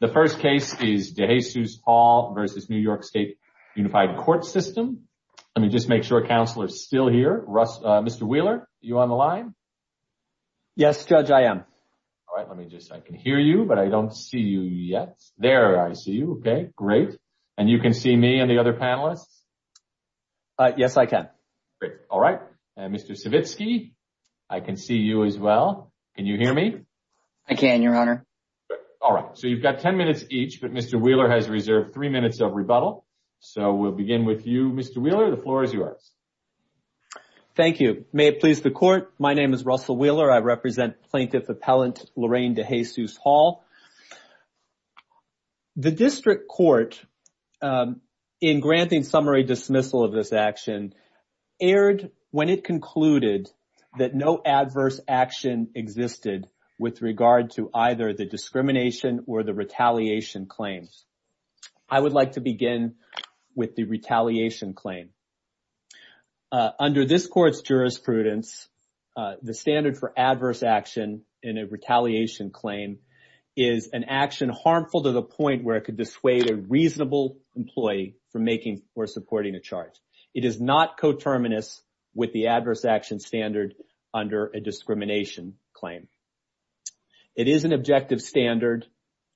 The first case is De Jesus-Hall v. New York State Unified Court System. Let me just make sure counsel is still here. Mr. Wheeler, are you on the line? Yes, Judge, I am. All right, let me just, I can hear you, but I don't see you yet. There, I see you. Okay, great. And you can see me and the other panelists? Yes, I can. Great. All right. And Mr. Savitsky, I can see you as well. Can you hear me? I can, Your Honor. All right. So, you've got 10 minutes each, but Mr. Wheeler has reserved three minutes of rebuttal. So, we'll begin with you, Mr. Wheeler. The floor is yours. Thank you. May it please the Court, my name is Russell Wheeler. I represent Plaintiff Appellant Lorraine DeJesus-Hall. The District Court, in granting summary dismissal of this action, erred when it concluded that no adverse action existed with regard to either the discrimination or the retaliation claims. I would like to begin with the retaliation claim. Under this Court's jurisprudence, the standard for adverse action in a retaliation claim is an action harmful to the point where it could dissuade a reasonable employee from making or supporting a charge. It is not coterminous with the adverse action standard under a discrimination claim. It is an objective standard,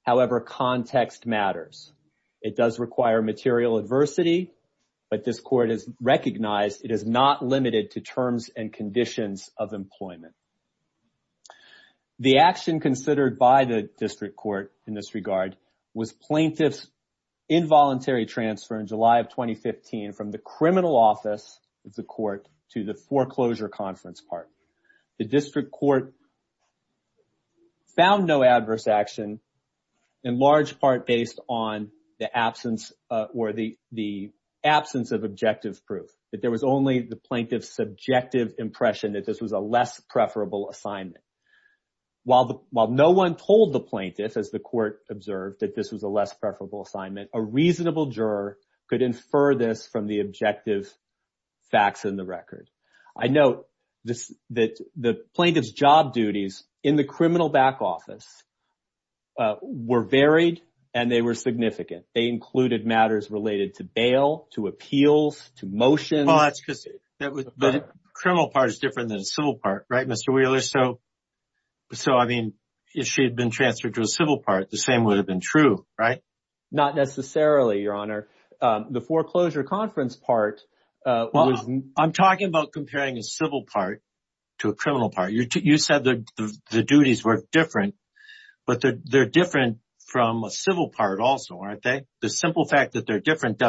however, context matters. It does require material adversity, but this Court has recognized it is not limited to terms and conditions of employment. The action considered by the District Court in this regard was plaintiff's involuntary transfer in July of 2015 from the criminal office of the Court to the foreclosure conference park. The District Court found no adverse action, in large part based on the absence of objective proof. There was only the plaintiff's subjective impression that this was a less preferable assignment. While no one told the plaintiff, as the Court observed, that this was a less preferable assignment, the plaintiff's job duties in the criminal back office were varied and significant. They included matters related to bail, appeals, and motions. But a criminal part is different than a civil part, right, Mr. Wheeler? So, I mean, if she had been transferred to a civil part, the same would have been true, right? Not necessarily, Your Honor. The foreclosure conference part was… I'm talking about comparing a civil part to a criminal part. You said the duties were different, but they're different from a civil part also, aren't they? The simple fact that they're different.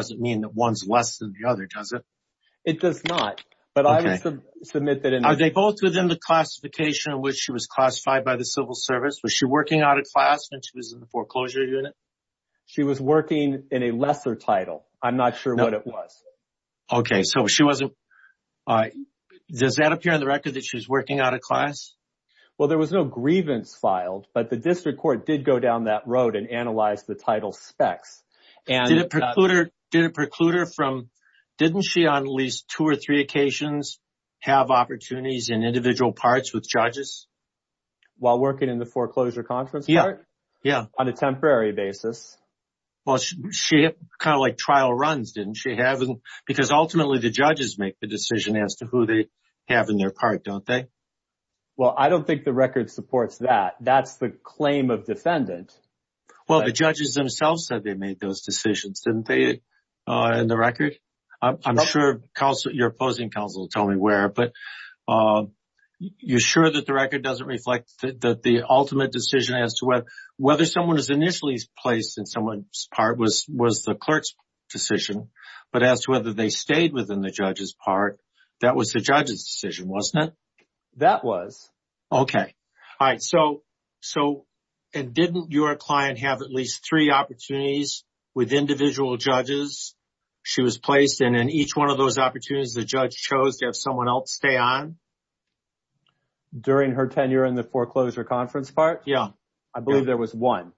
Are they both within the classification in which she was classified by the Civil Service? Was she working out of class when she was in the foreclosure unit? She was working in a lesser title. I'm not sure what it was. Okay, so she wasn't… Does that appear in the record that she was working out of class? Well, there was no grievance filed, but the District Court did go down that road and analyze the title specs. Did it preclude her from… Didn't she on at least two or three occasions have opportunities in individual parts with judges? While working in the foreclosure conference part? Yeah, yeah. On a temporary basis? Well, she had kind of like trial runs, didn't she? Because ultimately the judges make the decision as to who they have in their part, don't they? Well, I don't think the record supports that. That's the claim of defendant. Well, the judges themselves said they made those decisions, didn't they, in the record? I'm sure your opposing counsel will tell me where, but you're sure that the record doesn't reflect that the ultimate decision as to whether someone is initially placed in someone's part was the clerk's decision, but as to whether they stayed within the judge's part, that was the judge's decision, wasn't it? That was. Okay. All right. So, didn't your client have at least three opportunities with individual judges she was placed in and each one of those opportunities the judge chose to have someone else stay on? During her tenure in the foreclosure conference part? Yeah. I believe there was one.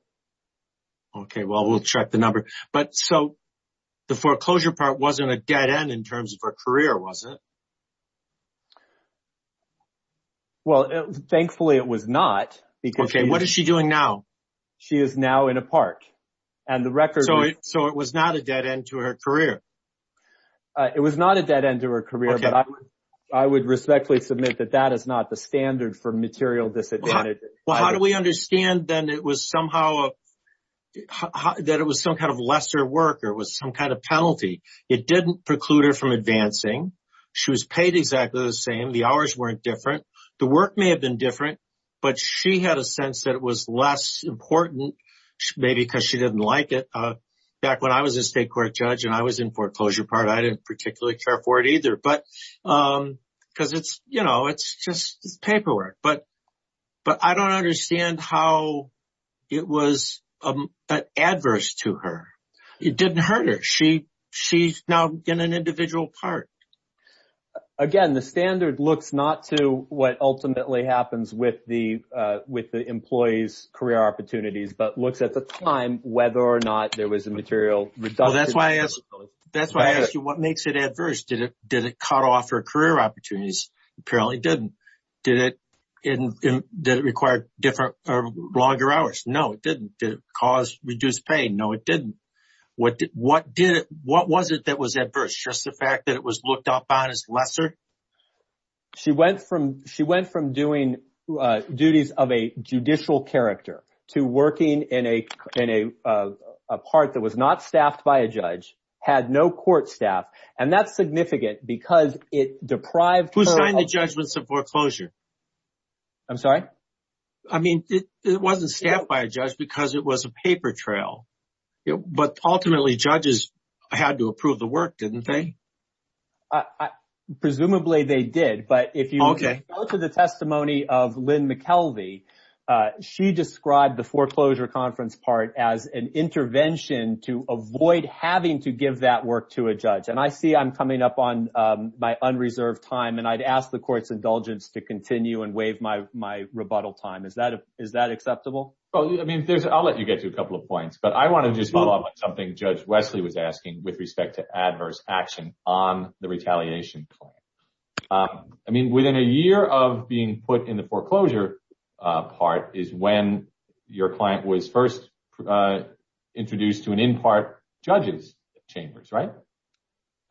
Okay. Well, we'll check the number. But so, the foreclosure part wasn't a dead end in terms of her career, was it? Well, thankfully, it was not. Okay. What is she doing now? She is now in a park. So, it was not a dead end to her career? It was not a dead end to her career, but I would respectfully submit that that is not the standard for material disadvantage. Well, how do we understand then that it was some kind of lesser work or it was some kind of penalty? It didn't preclude her from advancing. She was paid exactly the same. The hours weren't different. The work may have been different, but she had a sense that it was less important maybe because she didn't like it. Back when I was a state court judge and I was in foreclosure part, I didn't particularly care for it either because it's just paperwork. But I don't understand how it was adverse to her. It didn't hurt her. She's now in an individual park. Again, the standard looks not to what ultimately happens with the employees' career opportunities, but looks at the time whether or not there was a material reduction. Well, that's why I asked you what makes it adverse. Did it cut off her career opportunities? Apparently, it didn't. Did it require longer hours? No, it didn't. Did it cause reduced pain? No, it didn't. What was it that was adverse? Just the fact that it was looked up on as lesser? She went from doing duties of a judicial character to working in a part that was not staffed by a judge, had no court staff, and that's significant because it deprived her of- Who signed the judgments of foreclosure? I'm sorry? I mean, it wasn't staffed by a judge because it was a paper trail. But ultimately, judges had to approve the work, didn't they? Presumably, they did. But if you go to the testimony of Lynn McKelvey, she described the foreclosure conference part as an intervention to avoid having to give that work to a judge. And I see I'm coming up on my unreserved time, and I'd ask the court's rebuttal time. Is that acceptable? Well, I'll let you get to a couple of points, but I want to just follow up on something Judge Wesley was asking with respect to adverse action on the retaliation claim. I mean, within a year of being put in the foreclosure part is when your client was first introduced to an in-part judge's chambers, right?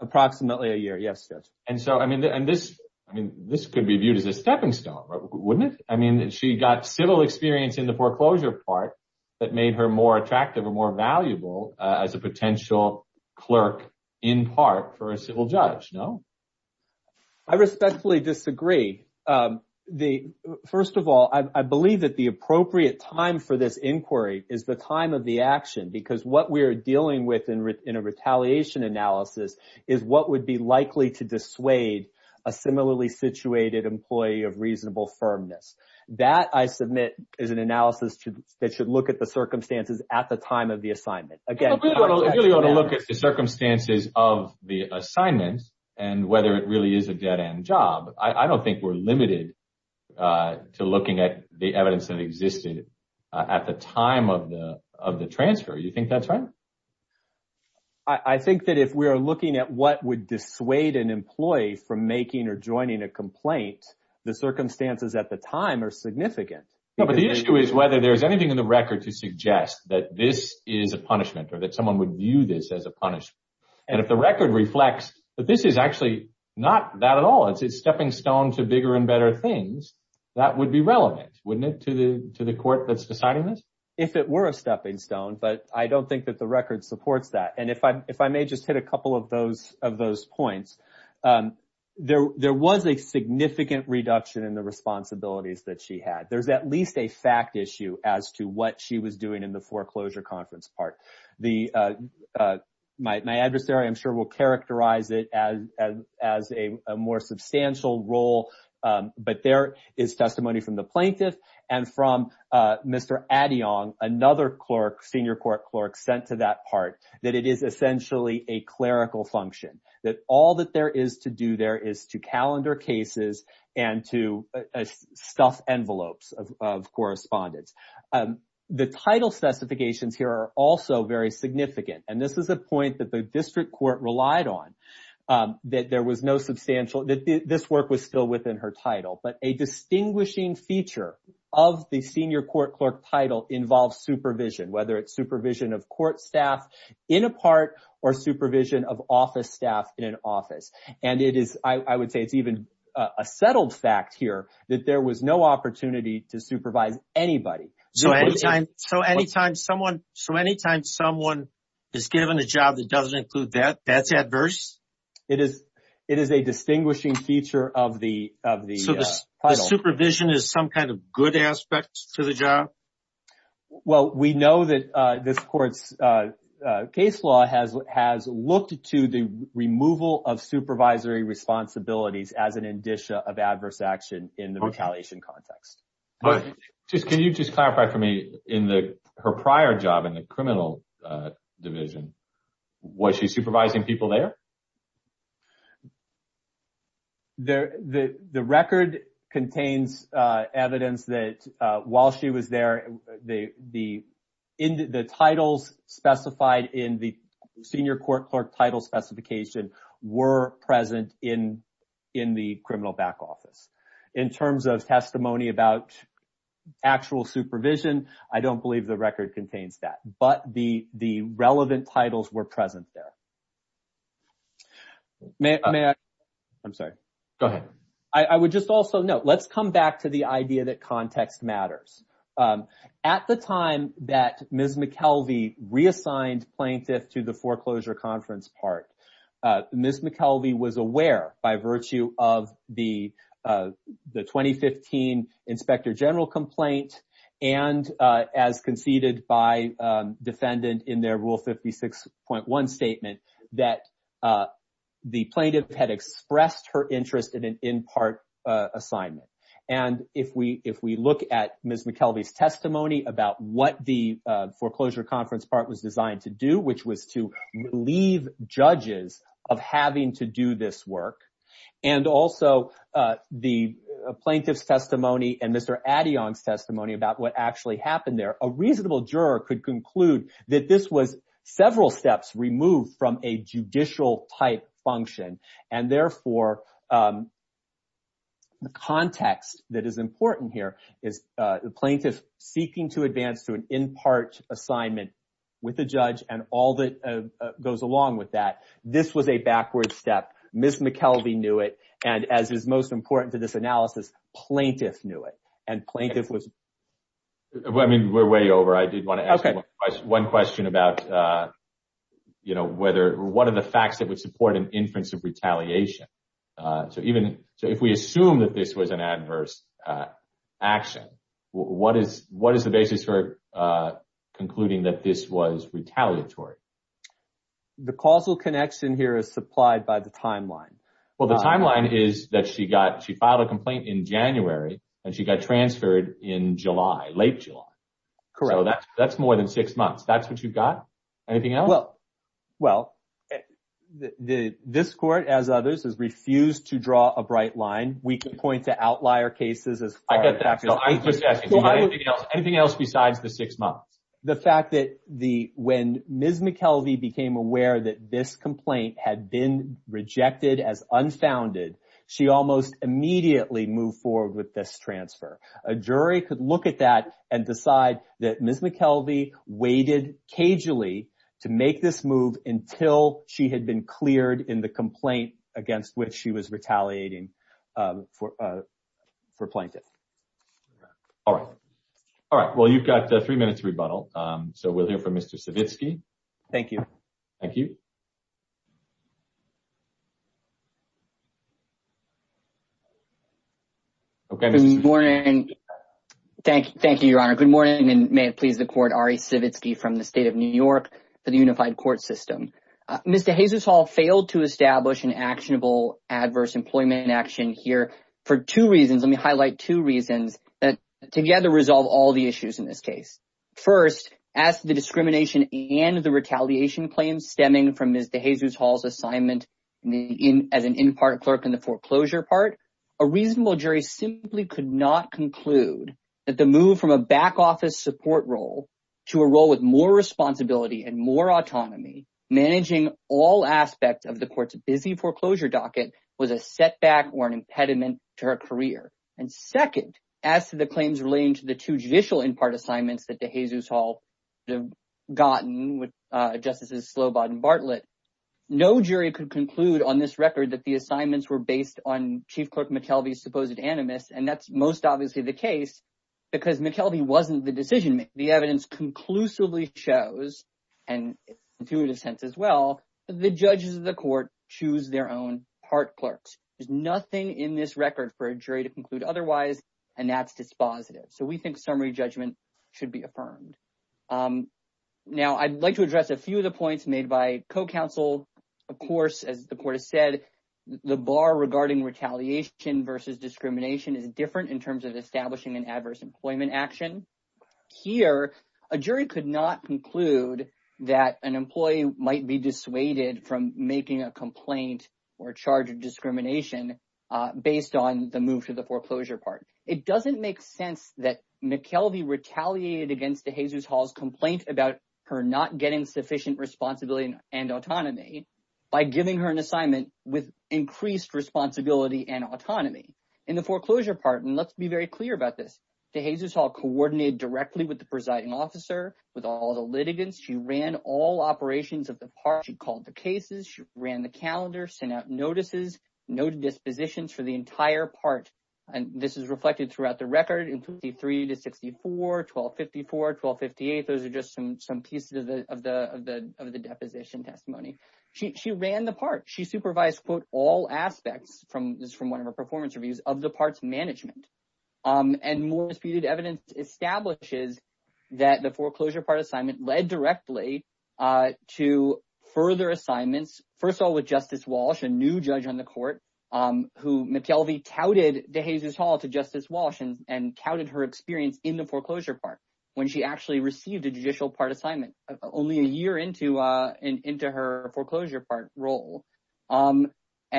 Approximately a year. Yes, Judge. So, I mean, this could be viewed as a stepping stone, wouldn't it? I mean, she got civil experience in the foreclosure part that made her more attractive and more valuable as a potential clerk in part for a civil judge, no? I respectfully disagree. First of all, I believe that the appropriate time for this inquiry is the time of the action because what we're dealing with in a retaliation analysis is what would be likely to dissuade a similarly situated employee of reasonable firmness. That, I submit, is an analysis that should look at the circumstances at the time of the assignment. Again, I really want to look at the circumstances of the assignment and whether it really is a dead-end job. I don't think we're limited to looking at the evidence that existed at the time of the transfer. You think that's right? I think that if we are looking at what would dissuade an employee from making or joining a complaint, the circumstances at the time are significant. No, but the issue is whether there's anything in the record to suggest that this is a punishment or that someone would view this as a punishment. And if the record reflects that this is actually not that at all, it's a stepping stone to bigger and better things, that would be relevant, wouldn't it, to the court that's deciding this? If it were a stepping stone, but I don't think that the record supports that. And if I may just hit a couple of those points, there was a significant reduction in the responsibilities that she had. There's at least a fact issue as to what she was doing in the foreclosure conference part. My adversary, I'm sure, will characterize it as a more substantial role, but there is testimony from the plaintiff and from Mr. Addion, another clerk, senior court clerk, sent to that part that it is essentially a clerical function, that all that there is to do there is to calendar cases and to stuff envelopes of correspondence. The title specifications here are also very significant. And this is a point that the district court relied on, that there was no substantial, that this work was still within her title. But a distinguishing feature of the senior court clerk title involves supervision, whether it's supervision of court staff in a part or supervision of office staff in an office. And it is, I would say, it's even a settled fact here that there was no opportunity to supervise anybody. So anytime someone is given a job that doesn't include that, that's adverse? It is a distinguishing feature of the title. So the supervision is some kind of good aspect to the job? Well, we know that this court's case law has looked to the removal of supervisory responsibilities as an indicia of adverse action in the retaliation context. But can you just clarify for me, in her prior job in the criminal division, was she supervising people there? The record contains evidence that while she was there, the titles specified in the senior court clerk title specification were present in the criminal back office. In terms of testimony about actual supervision, I don't believe the record contains that. But the relevant titles were present there. May I? I'm sorry. Go ahead. I would just also note, let's come back to the idea that context matters. At the time that Ms. McKelvey reassigned plaintiff to the foreclosure conference part, Ms. McKelvey was aware by virtue of the 2015 Inspector General complaint, and as conceded by defendant in their Rule 56.1 statement, that the plaintiff had expressed her interest in an in-part assignment. And if we look at Ms. McKelvey's testimony about what the foreclosure conference part was designed to do, which was to relieve judges of having to do this work, and also the plaintiff's testimony and Mr. Addion's testimony about what actually happened there, a reasonable juror could conclude that this was several steps removed from a judicial type function. And therefore, the context that is important here is the plaintiff seeking to advance to an in-part assignment with the judge and all that goes along with that. This was a Ms. McKelvey knew it, and as is most important to this analysis, plaintiff knew it. And plaintiff was... I mean, we're way over. I did want to ask you one question about, you know, whether, what are the facts that would support an inference of retaliation? So even, so if we assume that this was an adverse action, what is the basis for concluding that this was retaliatory? The causal connection here is supplied by the timeline. Well, the timeline is that she got, she filed a complaint in January and she got transferred in July, late July. Correct. So that's more than six months. That's what you've got. Anything else? Well, this court, as others, has refused to draw a bright line. We can point to outlier cases as far as... I get that. I'm just asking, do you know anything else besides the six months? The fact that when Ms. McKelvey became aware that this complaint had been rejected as unfounded, she almost immediately moved forward with this transfer. A jury could look at that and decide that Ms. McKelvey waited cagely to make this move until she had been cleared in the complaint against which she was retaliating for plaintiff. All right. All right. Well, you've got three minutes to rebuttal. So we'll hear from Mr. Savitsky. Thank you. Thank you. Okay. Good morning. Thank you, Your Honor. Good morning, and may it please the court, Ari Savitsky from the State of New York for the Unified Court System. Mr. Hazershall failed to establish an actionable adverse employment action here for two reasons. Let me highlight two reasons that together resolve all the issues in this case. First, as the discrimination and the retaliation claims stemming from Mr. Hazershall's assignment as an in-part clerk in the foreclosure part, a reasonable jury simply could not conclude that the move from a back office support role to a role with more responsibility and more autonomy managing all aspects of the court's to the claims relating to the two judicial in-part assignments that the Hazershall gotten with Justices Slobot and Bartlett. No jury could conclude on this record that the assignments were based on Chief Clerk McKelvey's supposed animus, and that's most obviously the case because McKelvey wasn't the decision maker. The evidence conclusively shows, and intuitive sense as well, the judges of the court choose their own part clerks. There's and that's dispositive. So we think summary judgment should be affirmed. Now I'd like to address a few of the points made by co-counsel. Of course, as the court has said, the bar regarding retaliation versus discrimination is different in terms of establishing an adverse employment action. Here, a jury could not conclude that an employee might be dissuaded from making a complaint or discrimination based on the move to the foreclosure part. It doesn't make sense that McKelvey retaliated against the Hazershall's complaint about her not getting sufficient responsibility and autonomy by giving her an assignment with increased responsibility and autonomy in the foreclosure part. And let's be very clear about this. The Hazershall coordinated directly with the presiding officer, with all the litigants. She ran all operations of the cases. She ran the calendar, sent out notices, noted dispositions for the entire part. And this is reflected throughout the record in 23 to 64, 1254, 1258. Those are just some pieces of the deposition testimony. She ran the part. She supervised, quote, all aspects from one of her performance reviews of the parts management. And more disputed evidence establishes that the Justice Walsh, a new judge on the court, who McKelvey touted the Hazershall to Justice Walsh and touted her experience in the foreclosure part when she actually received a judicial part assignment only a year into her foreclosure part role.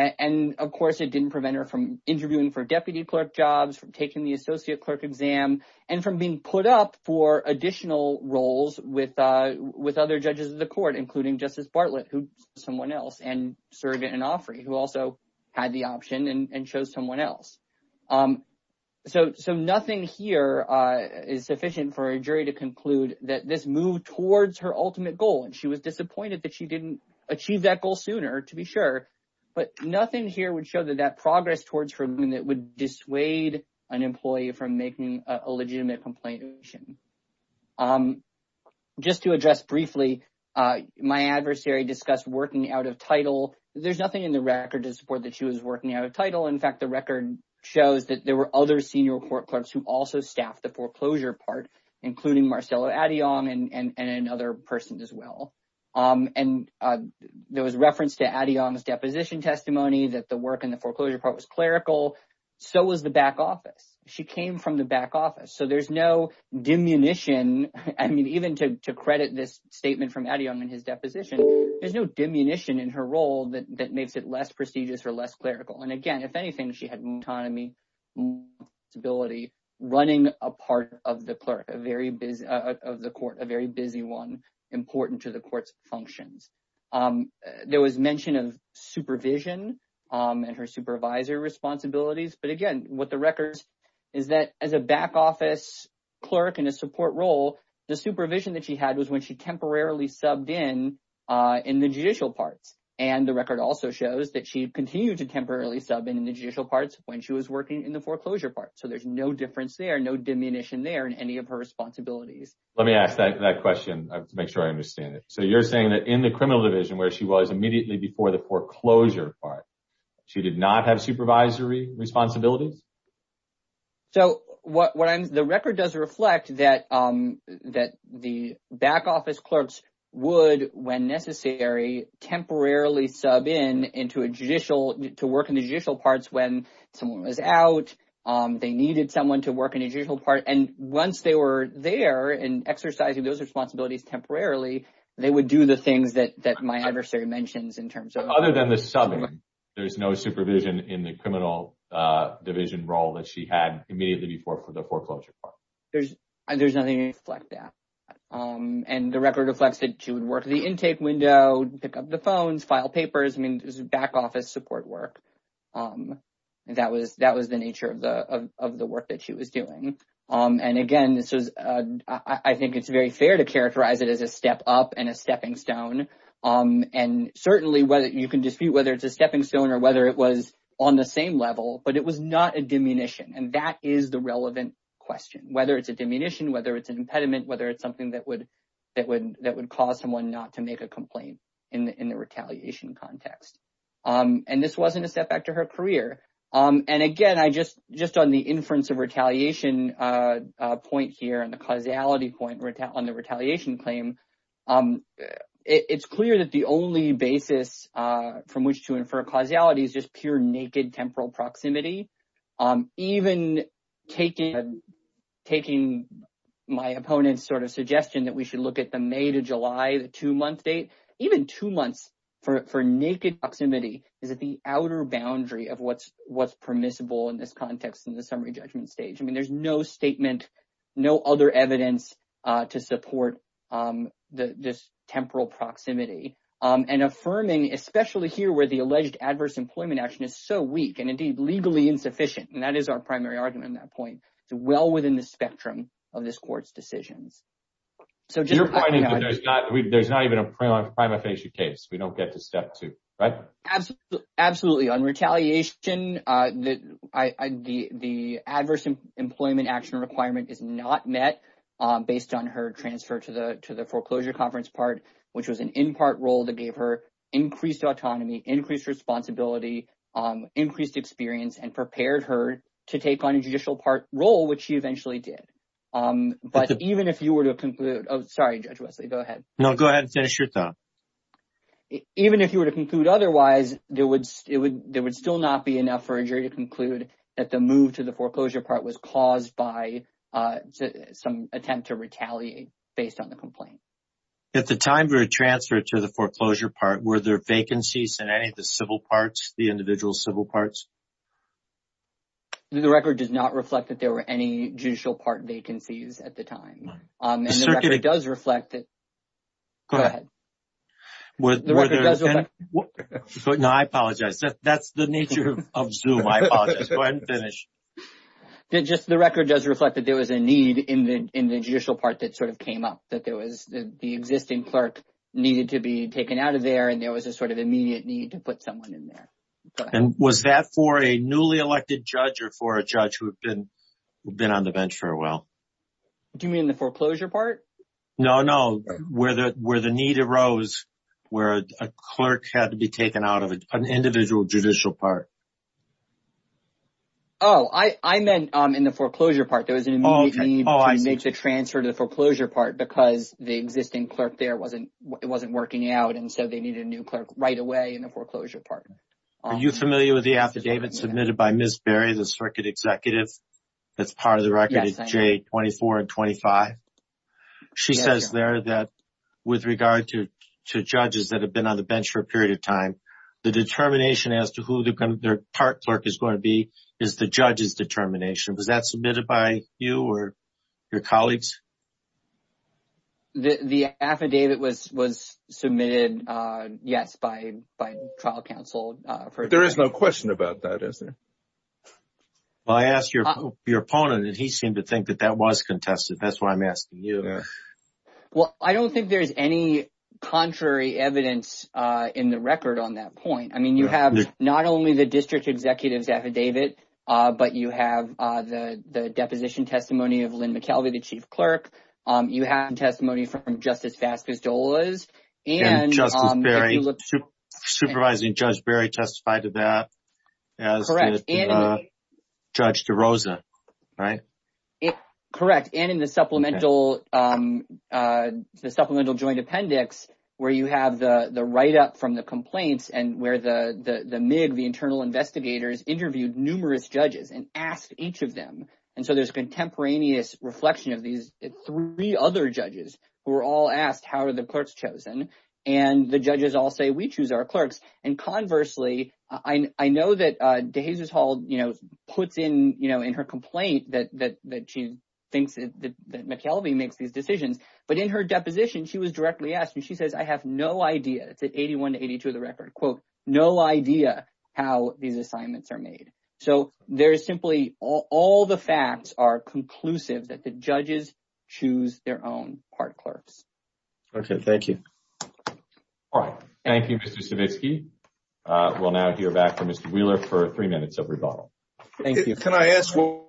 And of course, it didn't prevent her from interviewing for deputy clerk jobs, from taking the associate clerk exam, and from being put up for additional roles with other judges of the court, including Justice Bartlett, who someone else, and Surrogate and Offrey, who also had the option and chose someone else. So nothing here is sufficient for a jury to conclude that this moved towards her ultimate goal. And she was disappointed that she didn't achieve that goal sooner, to be sure. But nothing here would show that that progress towards removing it would dissuade an employee from making a legitimate complaint. Just to address briefly, my adversary discussed working out of title. There's nothing in the record to support that she was working out of title. In fact, the record shows that there were other senior court clerks who also staffed the foreclosure part, including Marcello Adiong and another person as well. And there was reference to Adiong's deposition testimony that the work in the foreclosure part was clerical. So was the back office. She came from the back office. So there's no diminution. I mean, even to credit this statement from Adiong in his deposition, there's no diminution in her role that makes it less prestigious or less clerical. And again, if anything, she had autonomy, responsibility, running a part of the court, a very busy one, important to the court's functions. There was mention of supervision and her supervisor responsibilities. But again, what the record is that as a back office clerk in a support role, the supervision that she had was when she temporarily subbed in in the judicial parts. And the record also shows that she continued to temporarily sub in the judicial parts when she was working in the foreclosure part. So there's no difference there, no diminution there in any of her responsibilities. Let me ask that question to make sure I understand it. So you're saying that in the criminal division where she was immediately before the foreclosure part, she did not have supervisory responsibilities? So what the record does reflect that that the back office clerks would, when necessary, temporarily sub in into a judicial to work in the judicial parts when someone was out, they needed someone to work in a judicial part. And once they were there and exercising those Other than the subbing, there's no supervision in the criminal division role that she had immediately before for the foreclosure part. There's nothing to reflect that. And the record reflects that she would work the intake window, pick up the phones, file papers, I mean, back office support work. That was the nature of the work that she was doing. And again, I think it's very fair to characterize it as a step up and a stepping stone. And certainly whether you can dispute whether it's a stepping stone or whether it was on the same level, but it was not a diminution. And that is the relevant question, whether it's a diminution, whether it's an impediment, whether it's something that would that would that would cause someone not to make a complaint in the retaliation context. And this wasn't a step back to her career. And again, I just just on the inference of retaliation point here and the retaliation claim, it's clear that the only basis from which to infer causality is just pure naked temporal proximity. Even taking taking my opponent's sort of suggestion that we should look at the May to July, the two month date, even two months for naked proximity is at the outer boundary of what's what's permissible in this context in the summary judgment stage. I mean, there's no statement, no other evidence to support this temporal proximity and affirming, especially here where the alleged adverse employment action is so weak and indeed legally insufficient. And that is our primary argument at that point. It's well within the spectrum of this court's decisions. So just you're finding that there's not there's not even a prima facie case. We don't get to step two. Absolutely. Absolutely. On retaliation, the the adverse employment action requirement is not met based on her transfer to the to the foreclosure conference part, which was an in part role that gave her increased autonomy, increased responsibility, increased experience and prepared her to take on a judicial part role, which she eventually did. But even if you were to conclude, sorry, Judge Wesley, go ahead. No, go ahead and finish your thought. Even if you were to conclude otherwise, there would it would there would still not be enough for a jury to conclude that the move to the foreclosure part was caused by some attempt to retaliate based on the complaint. At the time for a transfer to the foreclosure part, were there vacancies in any of the civil parts, the individual civil parts? The record does not reflect that there were any judicial part vacancies at the time. It certainly does reflect that. Go ahead. What? No, I apologize. That's the nature of Zoom. I apologize. Go ahead and finish. Just the record does reflect that there was a need in the in the judicial part that sort of came up, that there was the existing clerk needed to be taken out of there and there was a sort of immediate need to put someone in there. And was that for a newly elected judge or for a judge who had been been on the bench for a while? Do you mean the foreclosure part? No, no. Where the need arose where a clerk had to be taken out of an individual judicial part. Oh, I meant in the foreclosure part. There was an immediate need to make the transfer to the foreclosure part because the existing clerk there wasn't it wasn't working out. And so they needed a new clerk right away in the foreclosure part. Are you familiar with the affidavit submitted by she says there that with regard to judges that have been on the bench for a period of time, the determination as to who their part clerk is going to be is the judge's determination. Was that submitted by you or your colleagues? The affidavit was submitted, yes, by trial counsel. There is no question about that, is there? Well, I asked your opponent and he seemed to think that that was contested. That's why I'm Well, I don't think there's any contrary evidence in the record on that point. I mean, you have not only the district executive's affidavit, but you have the deposition testimony of Lynn McKelvey, the chief clerk. You have testimony from Justice Vasquez-Dolas and Supervising Judge Berry testified to that as Judge DeRosa, right? Correct. And in the supplemental joint appendix where you have the write-up from the complaints and where the MIG, the internal investigators, interviewed numerous judges and asked each of them. And so there's contemporaneous reflection of these three other judges who were all asked, how are the clerks chosen? And the judges all say, we choose our clerks. And conversely, I know that DeJesus-Hall, you know, puts in, you know, in her complaint that she thinks that McKelvey makes these decisions. But in her deposition, she was directly asked and she says, I have no idea. It's at 81 to 82 of the record, quote, no idea how these assignments are made. So there is simply all the facts are conclusive that the judges choose their own clerks. Okay. Thank you. All right. Thank you, Mr. Stavisky. We'll now hear back from Mr. Wheeler for three minutes of rebuttal. Thank you. Can I ask what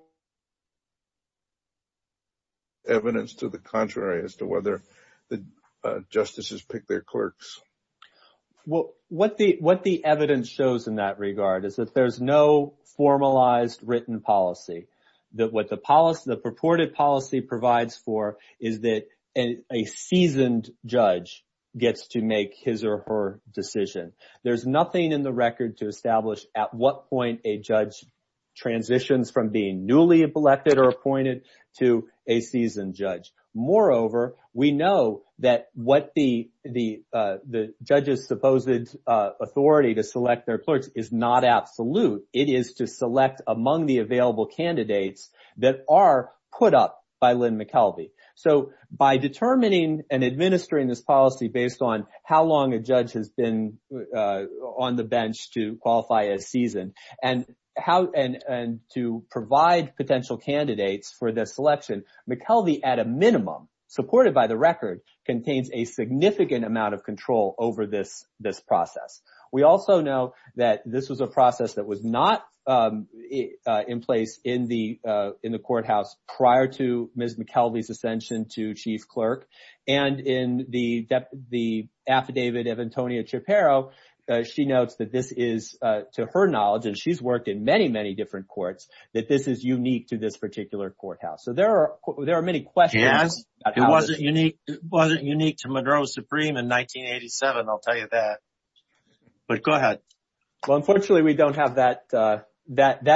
evidence to the contrary as to whether the justices pick their clerks? Well, what the evidence shows in that regard is that there's no formalized written policy. That what the purported policy provides for is that a seasoned judge gets to make his or her decision. There's nothing in the record to establish at what point a judge transitions from being newly elected or appointed to a seasoned judge. Moreover, we know that what the judge's supposed authority to select their clerks is not absolute. It is to select among the available candidates that are put up by Lynn McKelvey. So by determining and administering this policy based on how long a judge has been on the bench to qualify as seasoned and to provide potential candidates for this selection, McKelvey at a minimum, supported by the record, contains a significant amount of control over this process. We also know that this was a process that was not in place in the courthouse prior to Ms. McKelvey's chief clerk. And in the affidavit of Antonia Shapiro, she notes that this is, to her knowledge, and she's worked in many, many different courts, that this is unique to this particular courthouse. So there are many questions. It wasn't unique to Monroe Supreme in 1987, I'll tell you that. But go ahead. Well, unfortunately, we don't have that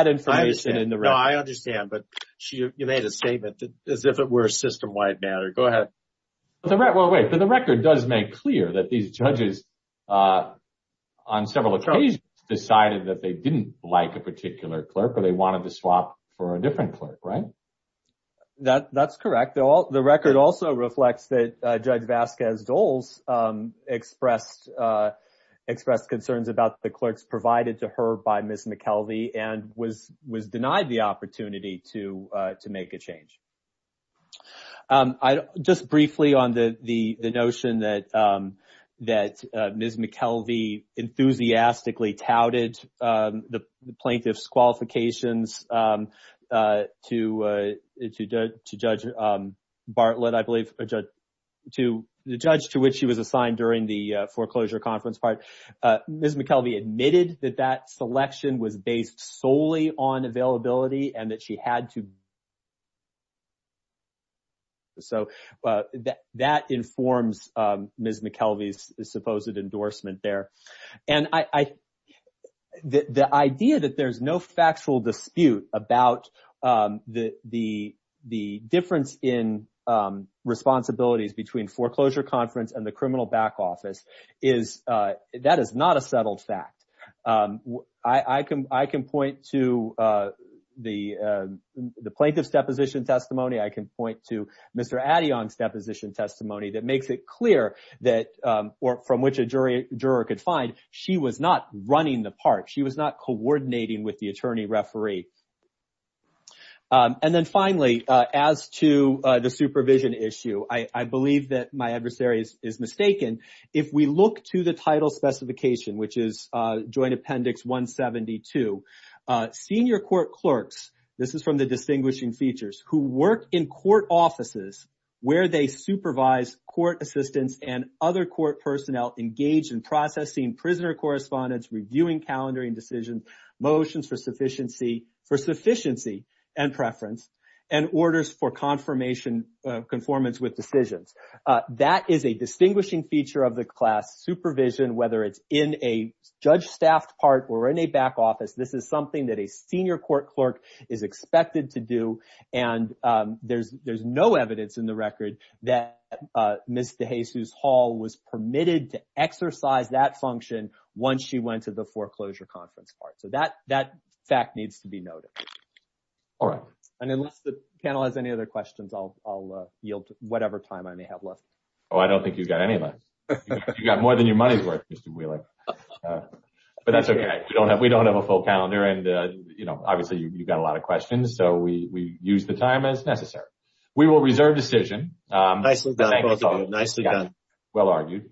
information in the record. I understand, but you made a statement as if it were a system-wide matter. Go ahead. Well, wait, but the record does make clear that these judges on several occasions decided that they didn't like a particular clerk or they wanted to swap for a different clerk, right? That's correct. The record also reflects that Judge Vasquez-Doles expressed concerns about the clerks provided to her by Ms. McKelvey and was denied the opportunity to make a change. Just briefly on the notion that Ms. McKelvey enthusiastically touted the plaintiff's qualifications to Judge Bartlett, I believe, the judge to which she was assigned during the hearing admitted that that selection was based solely on availability and that she had to. So that informs Ms. McKelvey's supposed endorsement there. And the idea that there's no factual dispute about the difference in responsibilities between foreclosure conference and the criminal back office, that is not a settled fact. I can point to the plaintiff's deposition testimony. I can point to Mr. Addion's deposition testimony that makes it clear that, or from which a juror could find, she was not running the part. She was not coordinating with the attorney referee. And then finally, as to the supervision issue, I believe that my adversary is mistaken. If we look to the title specification, which is Joint Appendix 172, senior court clerks, this is from the distinguishing features, who work in court offices where they supervise court assistants and other court personnel engaged in processing prisoner correspondence, reviewing calendaring decisions, motions for sufficiency and preference, and orders for conformance with decisions. That is a distinguishing feature of the class, supervision, whether it's in a judge-staffed part or in a back office. This is something that a senior court clerk is expected to do. And there's no evidence in the record that Ms. DeJesus-Hall was permitted to exercise that function once she went to the foreclosure conference part. So that fact needs to be noted. All right. And unless the panel has any other questions, I'll yield whatever time I may have left. Oh, I don't think you've got any left. You've got more than your money's worth, Mr. Wheeler. But that's okay. We don't have a full calendar. And obviously, you've got a lot of questions, so we use the time as necessary. We will reserve decision. Nicely done, both of you. Nicely done. Well argued.